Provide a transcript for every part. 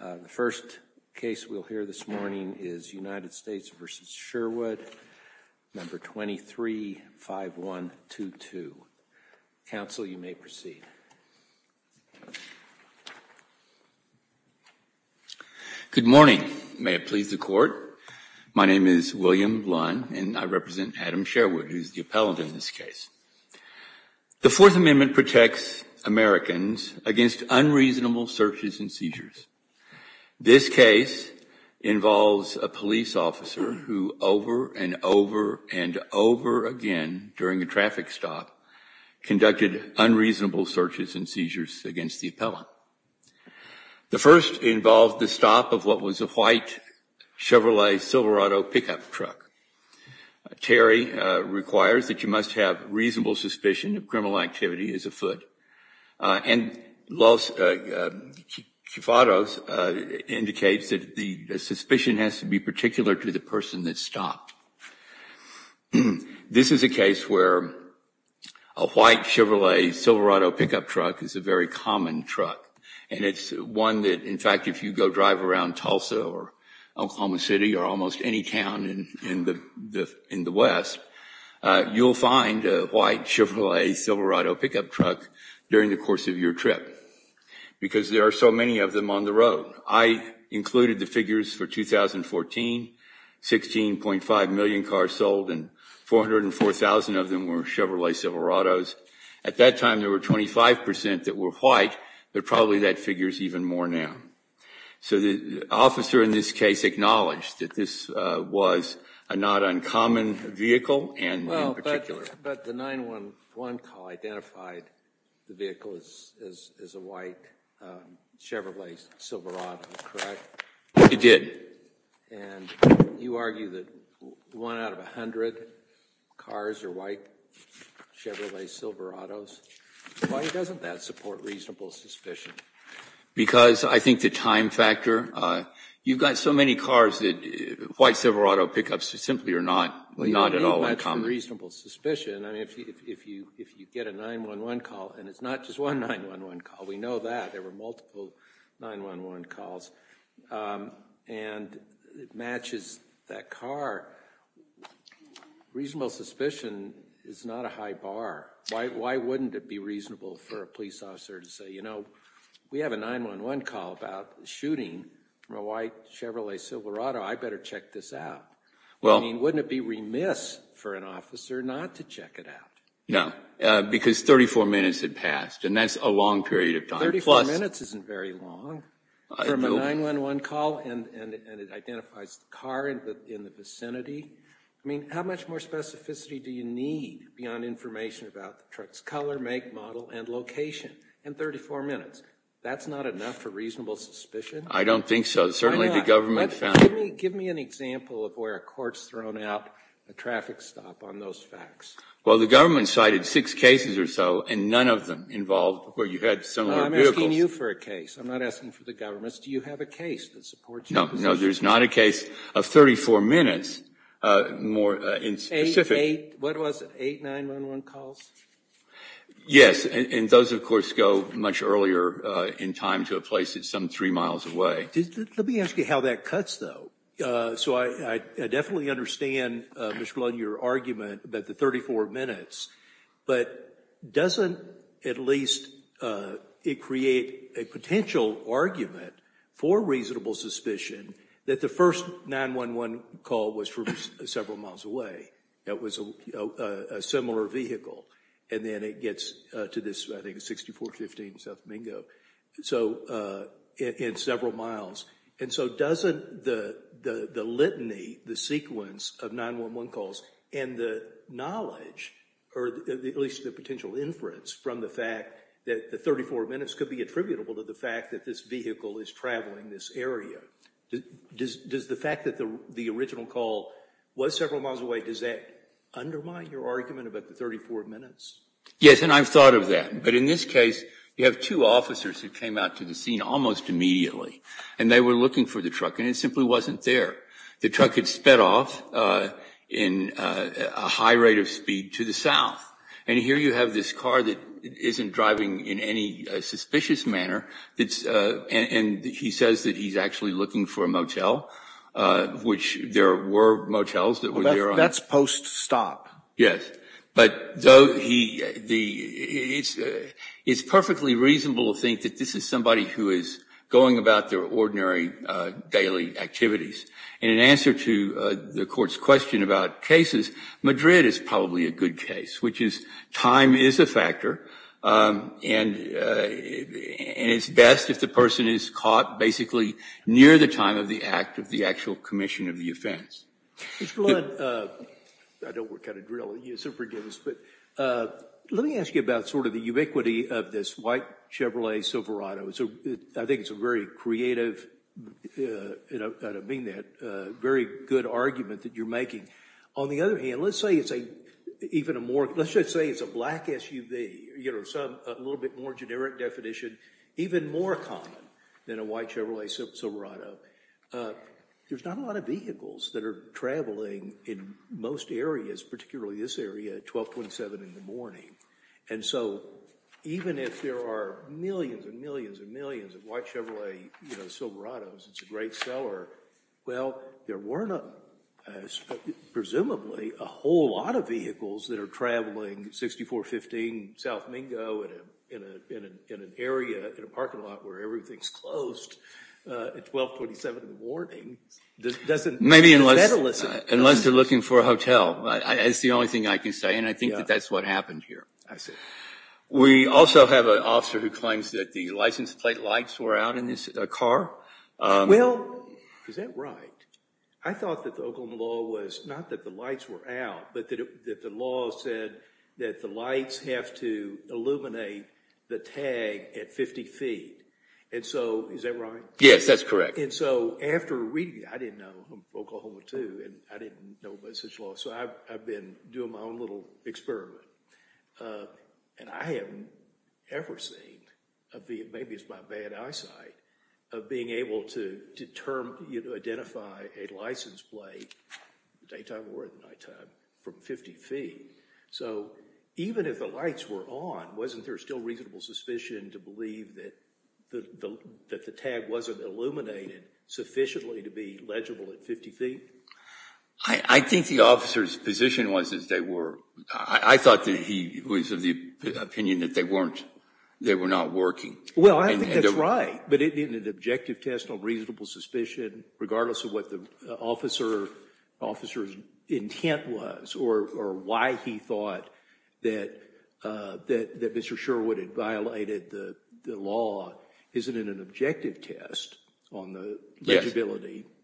The first case we'll hear this morning is United States v. Sherwood, No. 23-5122. Counsel, you may proceed. Good morning. May it please the Court. My name is William Lunn, and I represent Adam Sherwood, who is the appellant in this case. The Fourth Amendment protects Americans against unreasonable searches and seizures. This case involves a police officer who over and over and over again during a traffic stop conducted unreasonable searches and seizures against the appellant. The first involved the stop of what was a white Chevrolet Silverado pickup truck. Terry requires that you must have reasonable suspicion that criminal activity is afoot. And Los Chifados indicates that the suspicion has to be particular to the person that stopped. This is a case where a white Chevrolet Silverado pickup truck is a very common truck. And it's one that, in fact, if you go drive around Tulsa or Oklahoma City or almost any town in the West, you'll find a white Chevrolet Silverado pickup truck during the course of your trip because there are so many of them on the road. I included the figures for 2014, 16.5 million cars sold and 404,000 of them were Chevrolet Silverados. At that time, there were 25 percent that were white, but probably that figure is even more now. So the officer in this case acknowledged that this was a not uncommon vehicle. But the 911 call identified the vehicle as a white Chevrolet Silverado, correct? It did. It did. And you argue that one out of 100 cars are white Chevrolet Silverados. Why doesn't that support reasonable suspicion? Because I think the time factor. You've got so many cars that white Silverado pickups simply are not at all uncommon. That's a reasonable suspicion. I mean, if you get a 911 call, and it's not just one 911 call. We know that. There were multiple 911 calls. And it matches that car. Reasonable suspicion is not a high bar. Why wouldn't it be reasonable for a police officer to say, you know, we have a 911 call about a shooting of a white Chevrolet Silverado. I better check this out. I mean, wouldn't it be remiss for an officer not to check it out? No, because 34 minutes had passed, and that's a long period of time. 34 minutes isn't very long from a 911 call, and it identifies the car in the vicinity. I mean, how much more specificity do you need beyond information about the truck's color, make, model, and location in 34 minutes? That's not enough for reasonable suspicion? I don't think so. Certainly the government found. Give me an example of where a court's thrown out a traffic stop on those facts. Well, the government cited six cases or so, and none of them involved where you had some of your vehicles. I'm asking you for a case. I'm not asking for the government's. Do you have a case that supports your position? No, no, there's not a case of 34 minutes more in specific. What was it? Eight 911 calls? Yes, and those, of course, go much earlier in time to a place that's some three miles away. Let me ask you how that cuts, though. So I definitely understand, Mr. Blunt, your argument about the 34 minutes, but doesn't, at least, it create a potential argument for reasonable suspicion that the first 911 call was from several miles away, that it was a similar vehicle, and then it gets to this, I think, 6415 South Mingo in several miles. And so doesn't the litany, the sequence of 911 calls, and the knowledge, or at least the potential inference from the fact that the 34 minutes could be attributable to the fact that this vehicle is traveling this area. Does the fact that the original call was several miles away, does that undermine your argument about the 34 minutes? Yes, and I've thought of that. But in this case, you have two officers who came out to the scene almost immediately, and they were looking for the truck, and it simply wasn't there. The truck had sped off in a high rate of speed to the south. And here you have this car that isn't driving in any suspicious manner, and he says that he's actually looking for a motel, which there were motels that were there. That's post-stop. Yes. But it's perfectly reasonable to think that this is somebody who is going about their ordinary daily activities. And in answer to the Court's question about cases, Madrid is probably a good case, which is time is a factor, and it's best if the person is caught basically near the time of the act, of the actual commission of the offense. Mr. Lund, I don't work out of drill, so forgive us, but let me ask you about sort of the ubiquity of this white Chevrolet Silverado. I think it's a very creative, and I don't mean that, very good argument that you're making. On the other hand, let's just say it's a black SUV, a little bit more generic definition, even more common than a white Chevrolet Silverado. There's not a lot of vehicles that are traveling in most areas, particularly this area, at 12.7 in the morning. And so even if there are millions and millions and millions of white Chevrolet Silverados, it's a great seller. Well, there weren't, presumably, a whole lot of vehicles that are traveling 6415 South Mingo in an area, in a parking lot, where everything's closed at 12.7 in the morning. Maybe unless they're looking for a hotel. That's the only thing I can say, and I think that that's what happened here. We also have an officer who claims that the license plate lights were out in his car. Well, is that right? I thought that the Oklahoma law was not that the lights were out, but that the law said that the lights have to illuminate the tag at 50 feet. And so, is that right? Yes, that's correct. And so after reading it, I didn't know, I'm from Oklahoma too, and I didn't know about such a law, so I've been doing my own little experiment. And I haven't ever seen, maybe it's my bad eyesight, of being able to identify a license plate, daytime or at nighttime, from 50 feet. So even if the lights were on, wasn't there still reasonable suspicion to believe that the tag wasn't illuminated sufficiently to be legible at 50 feet? I think the officer's position was that they were, I thought that he was of the opinion that they were not working. Well, I think that's right. But in an objective test on reasonable suspicion, regardless of what the officer's intent was, or why he thought that Mr. Sherwood had violated the law, isn't it an objective test on the legibility? Yes.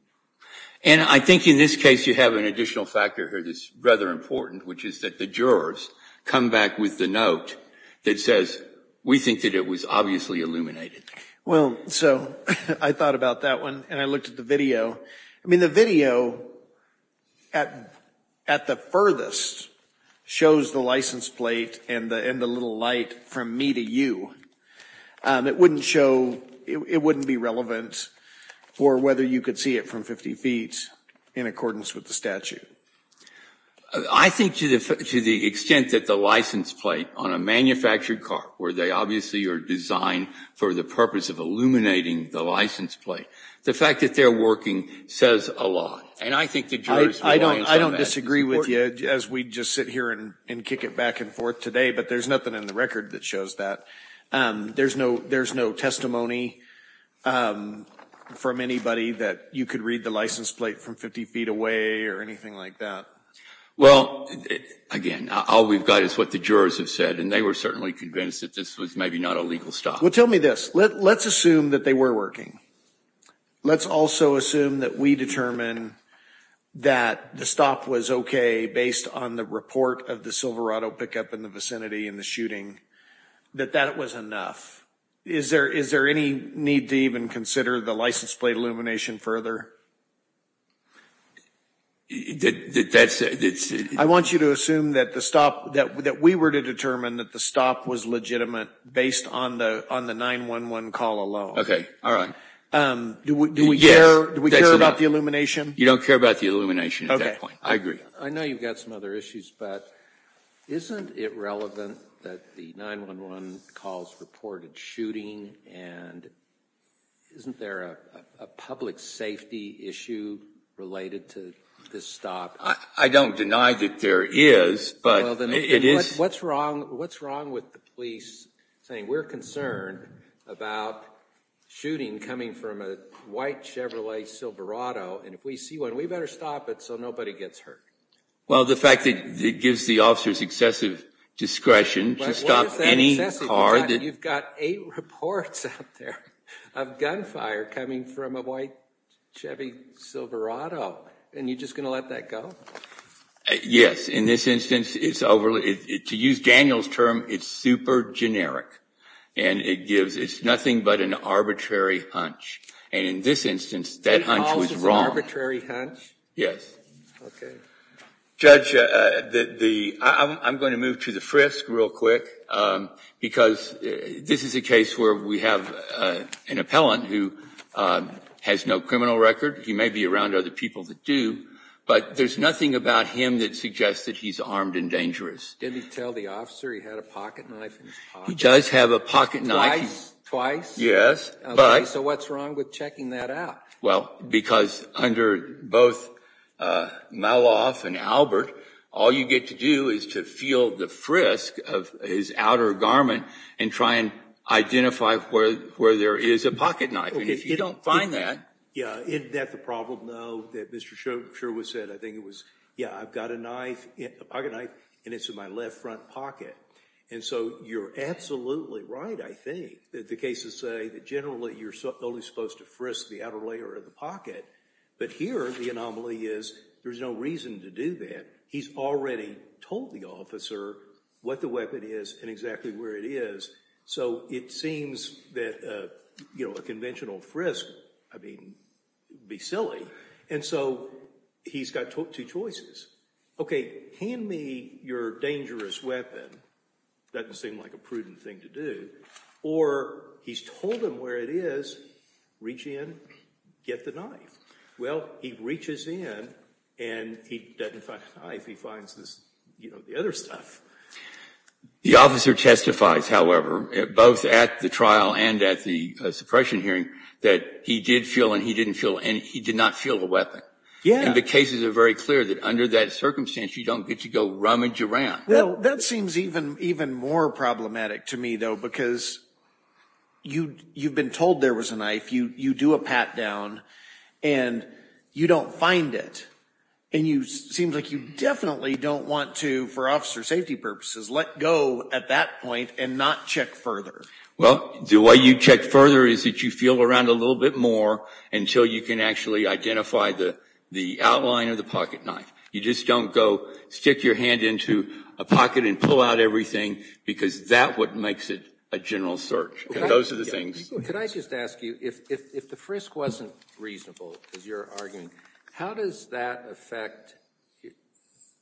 And I think in this case you have an additional factor here that's rather important, which is that the jurors come back with the note that says, we think that it was obviously illuminated. Well, so I thought about that one and I looked at the video. I mean, the video at the furthest shows the license plate and the little light from me to you. It wouldn't show, it wouldn't be relevant for whether you could see it from 50 feet in accordance with the statute. I think to the extent that the license plate on a manufactured car, where they obviously are designed for the purpose of illuminating the license plate, the fact that they're working says a lot. I don't disagree with you as we just sit here and kick it back and forth today, but there's nothing in the record that shows that. There's no testimony from anybody that you could read the license plate from 50 feet away or anything like that. Well, again, all we've got is what the jurors have said, and they were certainly convinced that this was maybe not a legal stop. Well, tell me this. Let's assume that they were working. Let's also assume that we determine that the stop was okay based on the report of the Silverado pickup in the vicinity in the shooting, that that was enough. Is there any need to even consider the license plate illumination further? I want you to assume that we were to determine that the stop was legitimate based on the 911 call alone. Okay, all right. Do we care about the illumination? You don't care about the illumination at that point. I agree. I know you've got some other issues, but isn't it relevant that the 911 calls reported shooting, and isn't there a public safety issue related to this stop? I don't deny that there is, but it is. What's wrong with the police saying we're concerned about shooting coming from a white Chevrolet Silverado, and if we see one, we better stop it so nobody gets hurt? Well, the fact that it gives the officers excessive discretion to stop any car. You've got eight reports out there of gunfire coming from a white Chevy Silverado, and you're just going to let that go? Yes. In this instance, to use Daniel's term, it's super generic, and it's nothing but an arbitrary hunch. And in this instance, that hunch was wrong. Eight calls is an arbitrary hunch? Yes. Okay. Judge, I'm going to move to the frisk real quick, because this is a case where we have an appellant who has no criminal record. He may be around other people that do, but there's nothing about him that suggests that he's armed and dangerous. Did he tell the officer he had a pocketknife in his pocket? He does have a pocketknife. Twice? Yes. So what's wrong with checking that out? Well, because under both Melloff and Albert, all you get to do is to feel the frisk of his outer garment and try and identify where there is a pocketknife, and if you don't find that. Yeah, isn't that the problem, though, that Mr. Sherwood said? I think it was, yeah, I've got a knife, a pocketknife, and it's in my left front pocket. And so you're absolutely right, I think, that the cases say that generally you're only supposed to frisk the outer layer of the pocket, but here the anomaly is there's no reason to do that. He's already told the officer what the weapon is and exactly where it is, so it seems that a conventional frisk would be silly, and so he's got two choices. Okay, hand me your dangerous weapon, doesn't seem like a prudent thing to do, or he's told him where it is, reach in, get the knife. Well, he reaches in and he doesn't find the knife, he finds the other stuff. The officer testifies, however, both at the trial and at the suppression hearing, that he did feel and he didn't feel and he did not feel the weapon. Yeah. Now the cases are very clear that under that circumstance you don't get to go rummage around. That seems even more problematic to me, though, because you've been told there was a knife, you do a pat down, and you don't find it, and it seems like you definitely don't want to, for officer safety purposes, let go at that point and not check further. Well, the way you check further is that you feel around a little bit more until you can actually identify the outline of the pocket knife. You just don't go stick your hand into a pocket and pull out everything, because that's what makes it a general search. Those are the things. Could I just ask you, if the frisk wasn't reasonable, as you're arguing, how does that affect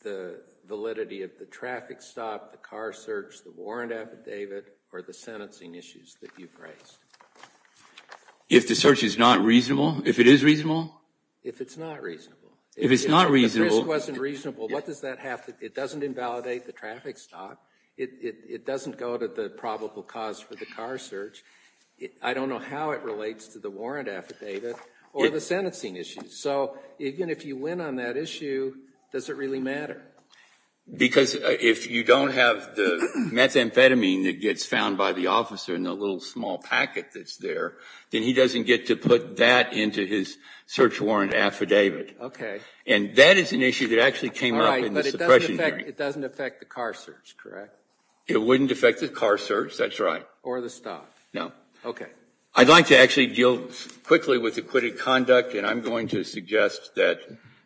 the validity of the traffic stop, the car search, the warrant affidavit, or the sentencing issues that you've raised? If the search is not reasonable? If it is reasonable? If it's not reasonable. If it's not reasonable. If the frisk wasn't reasonable, what does that have to do? It doesn't invalidate the traffic stop. It doesn't go to the probable cause for the car search. I don't know how it relates to the warrant affidavit or the sentencing issues. So even if you win on that issue, does it really matter? Because if you don't have the methamphetamine that gets found by the officer in the little small packet that's there, then he doesn't get to put that into his search warrant affidavit. Okay. And that is an issue that actually came up in the suppression hearing. But it doesn't affect the car search, correct? It wouldn't affect the car search, that's right. Or the stop. No. Okay. I'd like to actually deal quickly with acquitted conduct, and I'm going to suggest that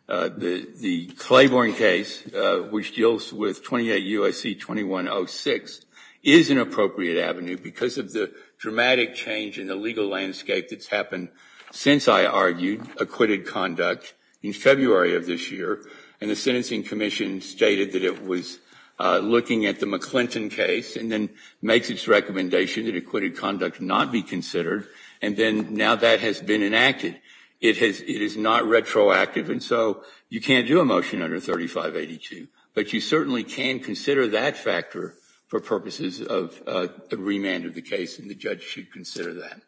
the Claiborne case, which deals with 28 U.S.C. 2106, is an appropriate avenue because of the dramatic change in the legal landscape that's happened since, I argued, acquitted conduct in February of this year. And the Sentencing Commission stated that it was looking at the McClinton case and then makes its recommendation that acquitted conduct not be considered. And then now that has been enacted. It is not retroactive, and so you can't do a motion under 3582. But you certainly can consider that factor for purposes of the remand of the case, and the judge should consider that.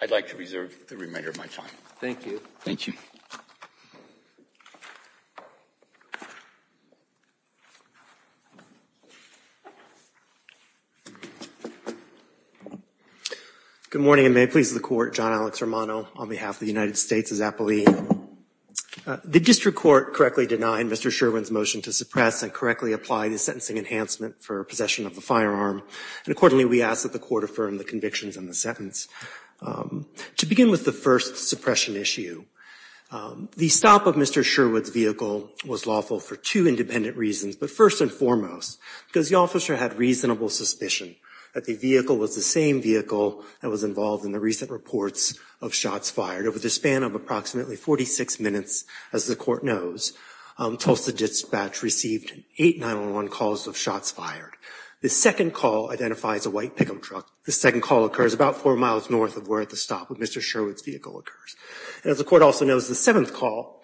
I'd like to reserve the remainder of my time. Thank you. Thank you. Good morning, and may it please the Court. John Alex Romano on behalf of the United States as appellee. The district court correctly denied Mr. Sherwin's motion to suppress and correctly apply the sentencing enhancement for possession of the firearm. And accordingly, we ask that the Court affirm the convictions in the sentence. To begin with the first suppression issue, the stop of Mr. Sherwin's vehicle was lawful for two independent reasons. But first and foremost, because the officer had reasonable suspicion that the vehicle was the same vehicle that was involved in the recent reports of shots fired. Over the span of approximately 46 minutes, as the Court knows, Tulsa Dispatch received eight 911 calls of shots fired. The second call identifies a white pick-up truck. The second call occurs about four miles north of where the stop of Mr. Sherwin's vehicle occurs. As the Court also knows, the seventh call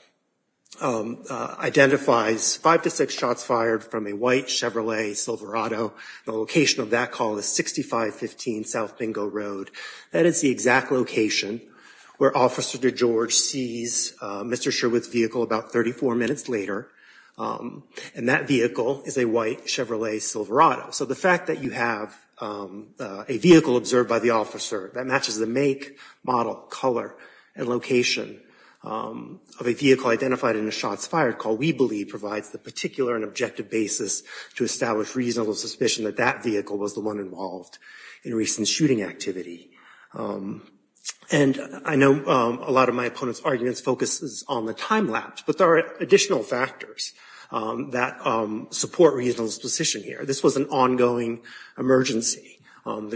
identifies five to six shots fired from a white Chevrolet Silverado. The location of that call is 6515 South Bingo Road. That is the exact location where Officer DeGeorge sees Mr. Sherwin's vehicle about 34 minutes later. And that vehicle is a white Chevrolet Silverado. So the fact that you have a vehicle observed by the officer that matches the make, model, color, and location of a vehicle identified in the shots fired call, we believe, provides the particular and objective basis to establish reasonable suspicion that that vehicle was the one involved in recent shooting activity. And I know a lot of my opponents' arguments focuses on the time lapse, but there are additional factors that support reasonable suspicion here. This was an ongoing emergency. I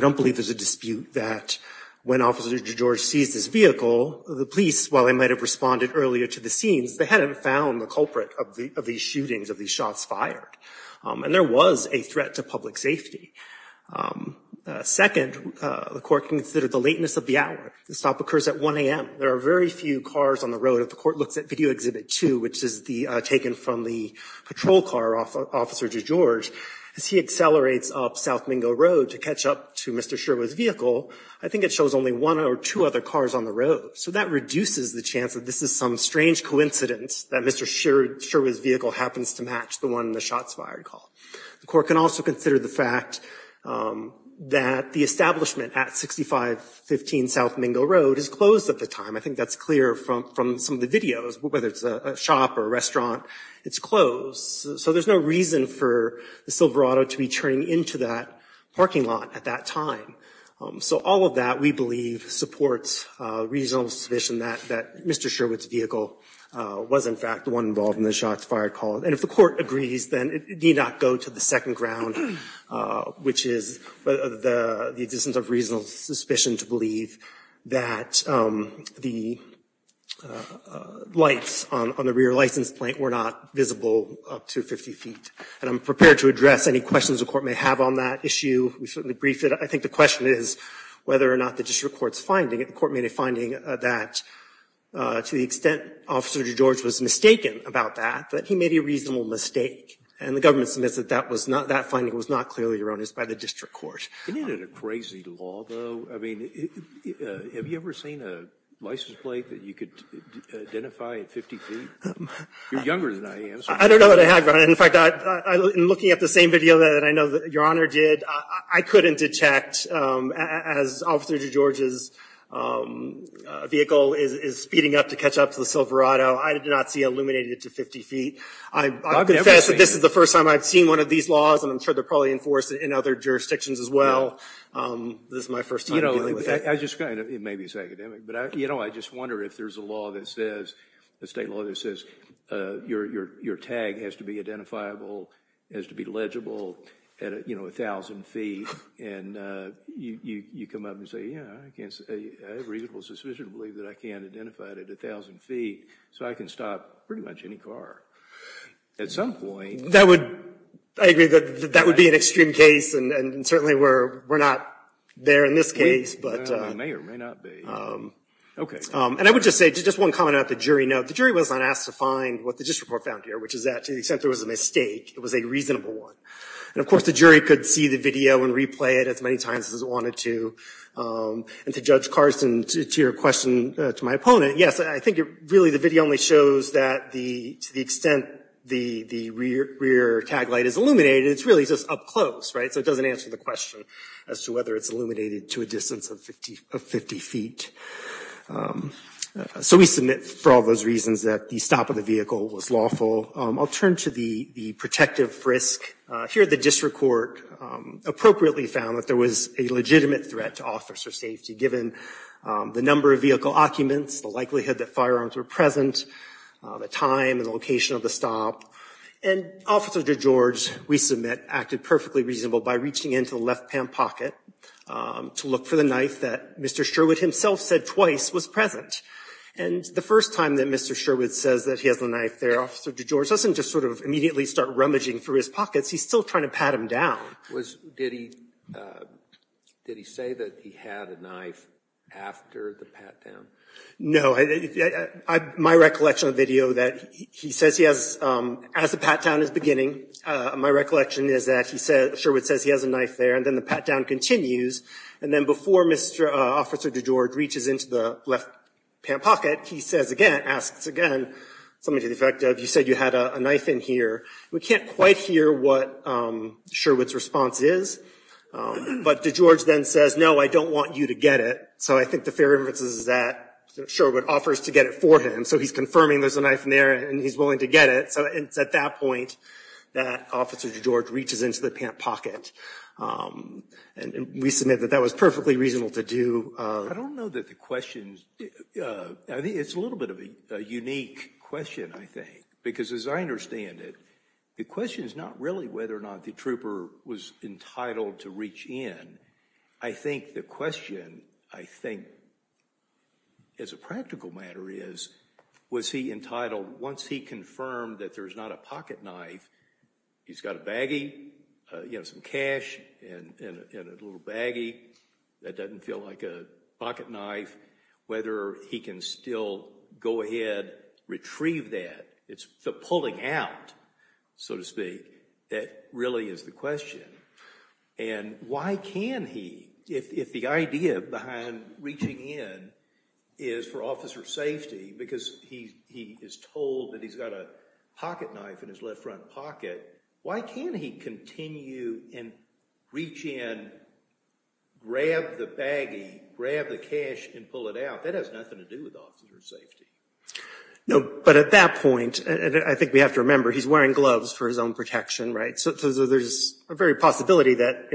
don't believe there's a dispute that when Officer DeGeorge sees this vehicle, the police, while they might have responded earlier to the scenes, they hadn't found the culprit of these shootings, of these shots fired. And there was a threat to public safety. Second, the Court considered the lateness of the hour. The stop occurs at 1 a.m. There are very few cars on the road. If the Court looks at Video Exhibit 2, which is taken from the patrol car of South Mingo Road to catch up to Mr. Sherwood's vehicle, I think it shows only one or two other cars on the road. So that reduces the chance that this is some strange coincidence that Mr. Sherwood's vehicle happens to match the one in the shots fired call. The Court can also consider the fact that the establishment at 6515 South Mingo Road is closed at the time. I think that's clear from some of the videos, whether it's a shop or a restaurant, it's closed. So there's no reason for the Silverado to be turning into that parking lot at that time. So all of that, we believe, supports reasonable suspicion that Mr. Sherwood's vehicle was, in fact, the one involved in the shots fired call. And if the Court agrees, then it need not go to the second ground, which is the existence of reasonable suspicion to believe that the lights on the rear license plate were not visible up to 50 feet. And I'm prepared to address any questions the Court may have on that issue. We certainly briefed it. I think the question is whether or not the district court's finding, the court made a finding that, to the extent Officer DeGeorge was mistaken about that, that he made a reasonable mistake. And the government submits that that finding was not clearly erroneous by the district court. It isn't a crazy law, though. I mean, have you ever seen a license plate that you could identify at 50 feet? You're younger than I am. I don't know what I have, Your Honor. In fact, in looking at the same video that I know Your Honor did, I couldn't detect, as Officer DeGeorge's vehicle is speeding up to catch up to the Silverado, I did not see it illuminated to 50 feet. I confess that this is the first time I've seen one of these laws, and I'm sure they're probably enforced in other jurisdictions as well. This is my first time dealing with it. I just kind of, it may be academic, but I just wonder if there's a law that says, a state law that says your tag has to be identifiable, has to be legible at 1,000 feet, and you come up and say, yeah, I have a reasonable suspicion to believe that I can identify it at 1,000 feet, so I can stop pretty much any car at some point. That would, I agree that that would be an extreme case, and certainly we're not there in this case. We may or may not be. Okay. And I would just say, just one comment about the jury note. The jury was not asked to find what the district court found here, which is that to the extent there was a mistake, it was a reasonable one. And of course, the jury could see the video and replay it as many times as it wanted to, and to Judge Carson, to your question to my opponent, yes, I think really the video only shows that to the extent the rear tag light is illuminated, it's really just up close, right? So it doesn't answer the question as to whether it's illuminated to a distance of 50 feet. So we submit for all those reasons that the stop of the vehicle was lawful. I'll turn to the protective risk. Here the district court appropriately found that there was a legitimate threat to officer safety, given the number of vehicle occupants, the likelihood that firearms were present, the time and the location of the stop. And Officer DeGeorge, we submit, acted perfectly reasonable by reaching into the left-hand pocket to look for the knife that Mr. Sherwood himself said twice was present. And the first time that Mr. Sherwood says that he has the knife there, Officer DeGeorge doesn't just sort of immediately start rummaging through his pockets. He's still trying to pat him down. Did he say that he had a knife after the pat-down? No. My recollection of the video that he says he has, as the pat-down is beginning, my recollection is that Sherwood says he has a knife there, and then the pat-down continues. And then before Officer DeGeorge reaches into the left-hand pocket, he says again, asks again, something to the effect of, you said you had a knife in here. We can't quite hear what Sherwood's response is. But DeGeorge then says, no, I don't want you to get it. So I think the fair inference is that Sherwood offers to get it for him. So he's confirming there's a knife in there, and he's willing to get it. So it's at that point that Officer DeGeorge reaches into the pant pocket. And we submit that that was perfectly reasonable to do. I don't know that the question's – it's a little bit of a unique question, I think, because as I understand it, the question is not really whether or not the trooper was entitled to reach in. I think the question, I think, as a practical matter is, was he entitled, once he confirmed that there's not a pocket knife, he's got a baggie, he has some cash in a little baggie, that doesn't feel like a pocket knife, whether he can still go ahead, retrieve that. It's the pulling out, so to speak, that really is the question. And why can he, if the idea behind reaching in is for officer safety, because he is told that he's got a pocket knife in his left front pocket, why can't he continue and reach in, grab the baggie, grab the cash, and pull it out? That has nothing to do with officer safety. No, but at that point, and I think we have to remember, he's wearing gloves for his own protection, right? So there's a very possibility that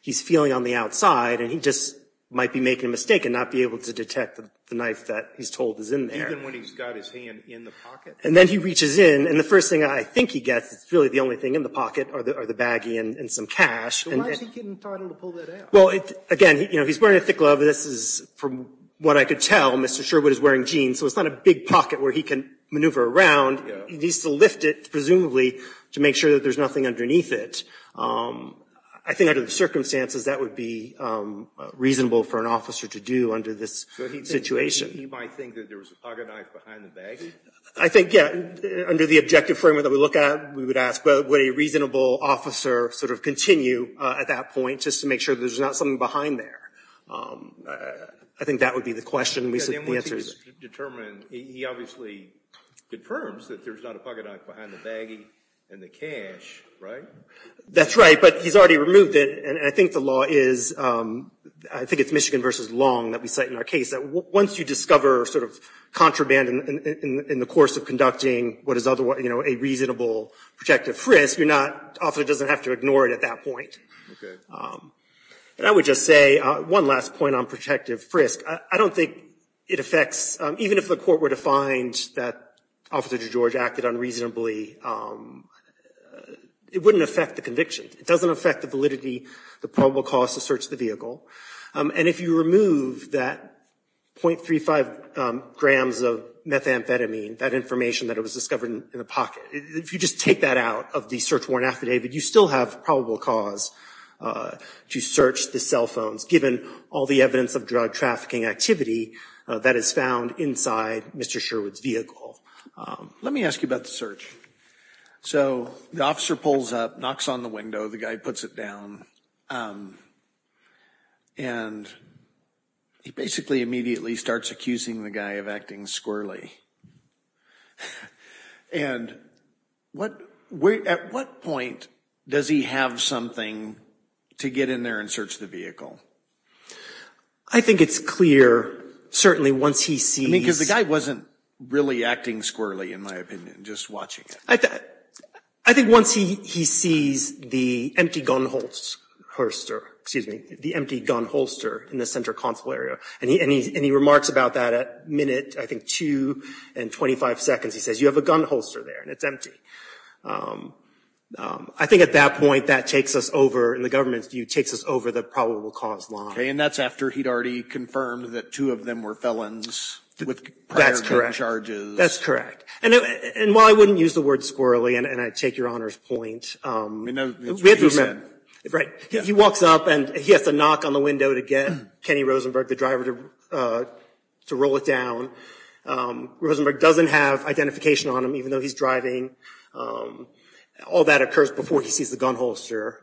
he's feeling on the outside, and he just might be making a mistake and not be able to detect the knife that he's told is in there. Even when he's got his hand in the pocket? And then he reaches in, and the first thing I think he gets, it's really the only thing in the pocket are the baggie and some cash. So why is he getting entitled to pull that out? Well, again, he's wearing a thick glove. This is, from what I could tell, Mr. Sherwood is wearing jeans, so it's not a big pocket where he can maneuver around. He needs to lift it, presumably, to make sure that there's nothing underneath it. I think under the circumstances, that would be reasonable for an officer to do under this situation. So he might think that there was a pocket knife behind the baggie? I think, yeah. Under the objective framework that we look at, we would ask would a reasonable officer sort of continue at that point just to make sure there's not something behind there? I think that would be the question. Yeah, then once he's determined, he obviously confirms that there's not a pocket knife behind the baggie and the cash, right? That's right, but he's already removed it, and I think the law is, I think it's Michigan versus Long that we cite in our case, that once you discover sort of contraband in the course of conducting what is otherwise a reasonable protective frisk, you're not, the officer doesn't have to ignore it at that point. Okay. And I would just say, one last point on protective frisk. I don't think it affects, even if the court were to find that Officer DeGeorge acted unreasonably, it wouldn't affect the conviction. It doesn't affect the validity, the probable cause to search the vehicle. And if you remove that .35 grams of methamphetamine, that information that was discovered in the pocket, if you just take that out of the search warrant affidavit, you still have probable cause to search the cell phones, given all the evidence of drug trafficking activity that is found inside Mr. Sherwood's vehicle. Let me ask you about the search. So the officer pulls up, knocks on the window, the guy puts it down, and he basically immediately starts accusing the guy of acting squirrelly. And at what point does he have something to get in there and search the vehicle? I think it's clear, certainly once he sees. I mean, because the guy wasn't really acting squirrelly, in my opinion, just watching it. I think once he sees the empty gun holster in the center console area, and he remarks about that at minute, I think, 2 and 25 seconds. He says, you have a gun holster there, and it's empty. I think at that point, that takes us over, in the government's view, takes us over the probable cause line. Okay, and that's after he'd already confirmed that two of them were felons with prior gun charges. That's correct. And while I wouldn't use the word squirrelly, and I take your Honor's point, he walks up, and he has to knock on the window to get Kenny Rosenberg, the driver, to roll it down. Rosenberg doesn't have identification on him, even though he's driving. All that occurs before he sees the gun holster.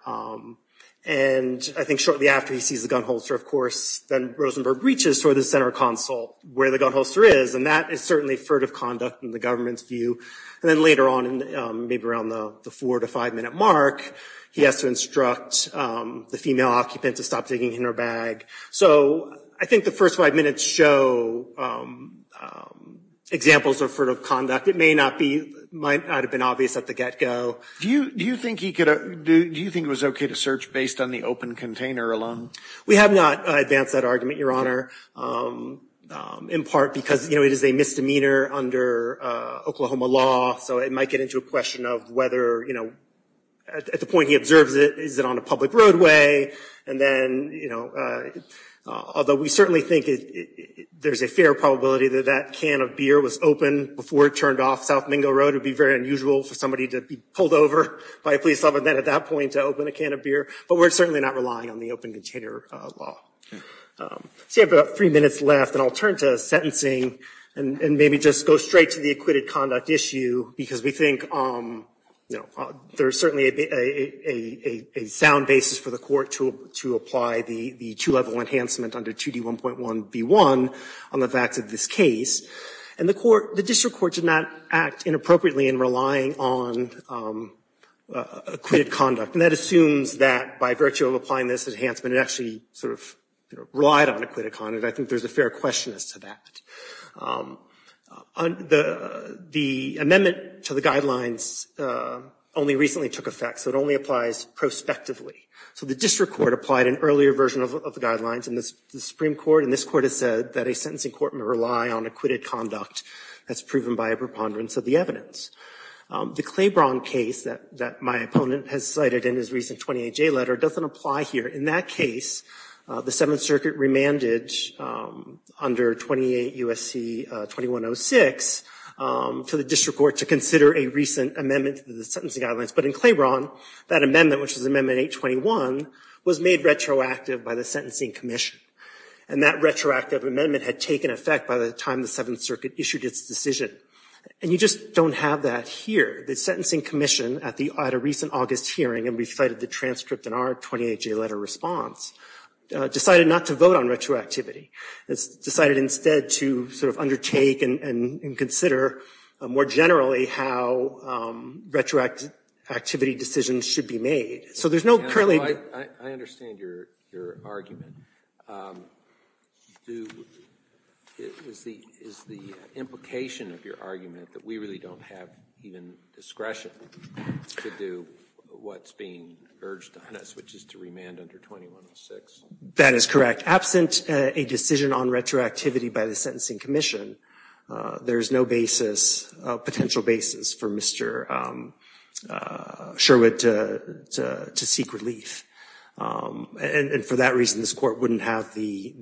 And I think shortly after he sees the gun holster, of course, then Rosenberg reaches for the center console where the gun holster is, and that is certainly furtive conduct in the government's view. And then later on, maybe around the four- to five-minute mark, he has to instruct the female occupant to stop taking her bag. So I think the first five minutes show examples of furtive conduct. It may not have been obvious at the get-go. Do you think it was okay to search based on the open container alone? We have not advanced that argument, Your Honor, in part because, you know, it is a misdemeanor under Oklahoma law, so it might get into a question of whether, you know, at the point he observes it, is it on a public roadway? And then, you know, although we certainly think there's a fair probability that that can of beer was open before it turned off South Mingo Road. It would be very unusual for somebody to be pulled over by a police officer at that point to open a can of beer. But we're certainly not relying on the open container law. So you have about three minutes left, and I'll turn to sentencing and maybe just go straight to the acquitted conduct issue because we think, you know, there's certainly a sound basis for the court to apply the two-level enhancement under 2D1.1b1 on the facts of this case. And the district court did not act inappropriately in relying on acquitted conduct. And that assumes that by virtue of applying this enhancement, it actually sort of relied on acquitted conduct. I think there's a fair question as to that. The amendment to the guidelines only recently took effect, so it only applies prospectively. So the district court applied an earlier version of the guidelines, and the Supreme Court and this Court have said that a sentencing court cannot rely on acquitted conduct as proven by a preponderance of the evidence. The Claiborne case that my opponent has cited in his recent 28J letter doesn't apply here. In that case, the Seventh Circuit remanded under 28 U.S.C. 2106 for the district court to consider a recent amendment to the sentencing guidelines. But in Claiborne, that amendment, which is Amendment 821, was made retroactive by the Sentencing Commission. And that retroactive amendment had taken effect by the time the Seventh Circuit issued its decision. And you just don't have that here. The Sentencing Commission, at a recent August hearing, and we cited the transcript in our 28J letter response, decided not to vote on retroactivity. It decided instead to sort of undertake and consider more generally how retroactivity decisions should be made. I understand your argument. Is the implication of your argument that we really don't have even discretion to do what's being urged on us, which is to remand under 2106? That is correct. Absent a decision on retroactivity by the Sentencing Commission, there is no basis, potential basis, for Mr. Sherwood to seek relief. And for that reason, this Court wouldn't have the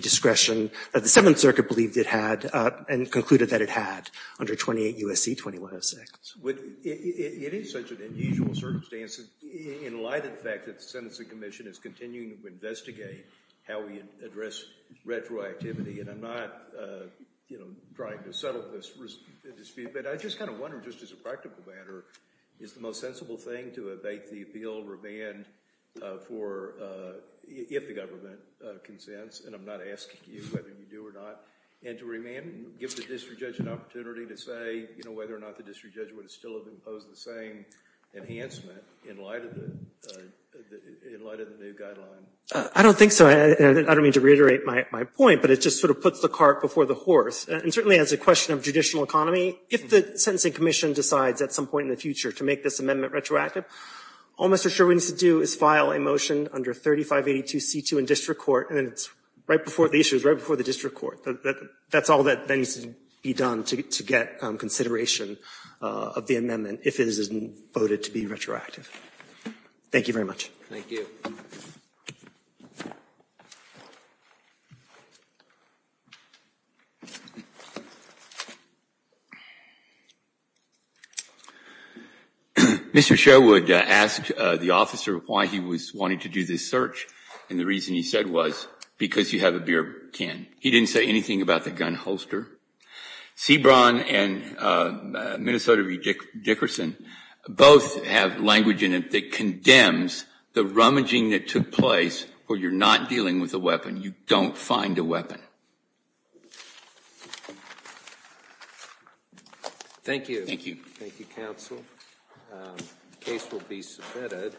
discretion that the Seventh Circuit believed it had and concluded that it had under 28 U.S.C. 2106. It is such an unusual circumstance in light of the fact that the Sentencing Commission is continuing to investigate how we address retroactivity. And I'm not trying to settle this dispute. But I just kind of wonder, just as a practical matter, is the most sensible thing to abate the appeal, remand, if the government consents? And I'm not asking you whether you do or not. And to remand, give the district judge an opportunity to say whether or not the district judge would still have imposed the same enhancement in light of the new guideline? I don't think so. I don't mean to reiterate my point, but it just sort of puts the cart before the horse. And certainly, as a question of judicial economy, if the Sentencing Commission decides at some point in the future to make this amendment retroactive, all Mr. Sherwood needs to do is file a motion under 3582C2 in district court, and it's right before the issue, it's right before the district court. That's all that needs to be done to get consideration of the amendment, if it is voted to be retroactive. Thank you very much. Thank you. Mr. Sherwood asked the officer why he was wanting to do this search, and the reason he said was because you have a beer can. He didn't say anything about the gun holster. Sebron and Minnesota Dickerson both have language in it that condemns the rummaging that took place where you're not dealing with a weapon. You don't find a weapon. Thank you. Thank you. Thank you, counsel. The case will be submitted.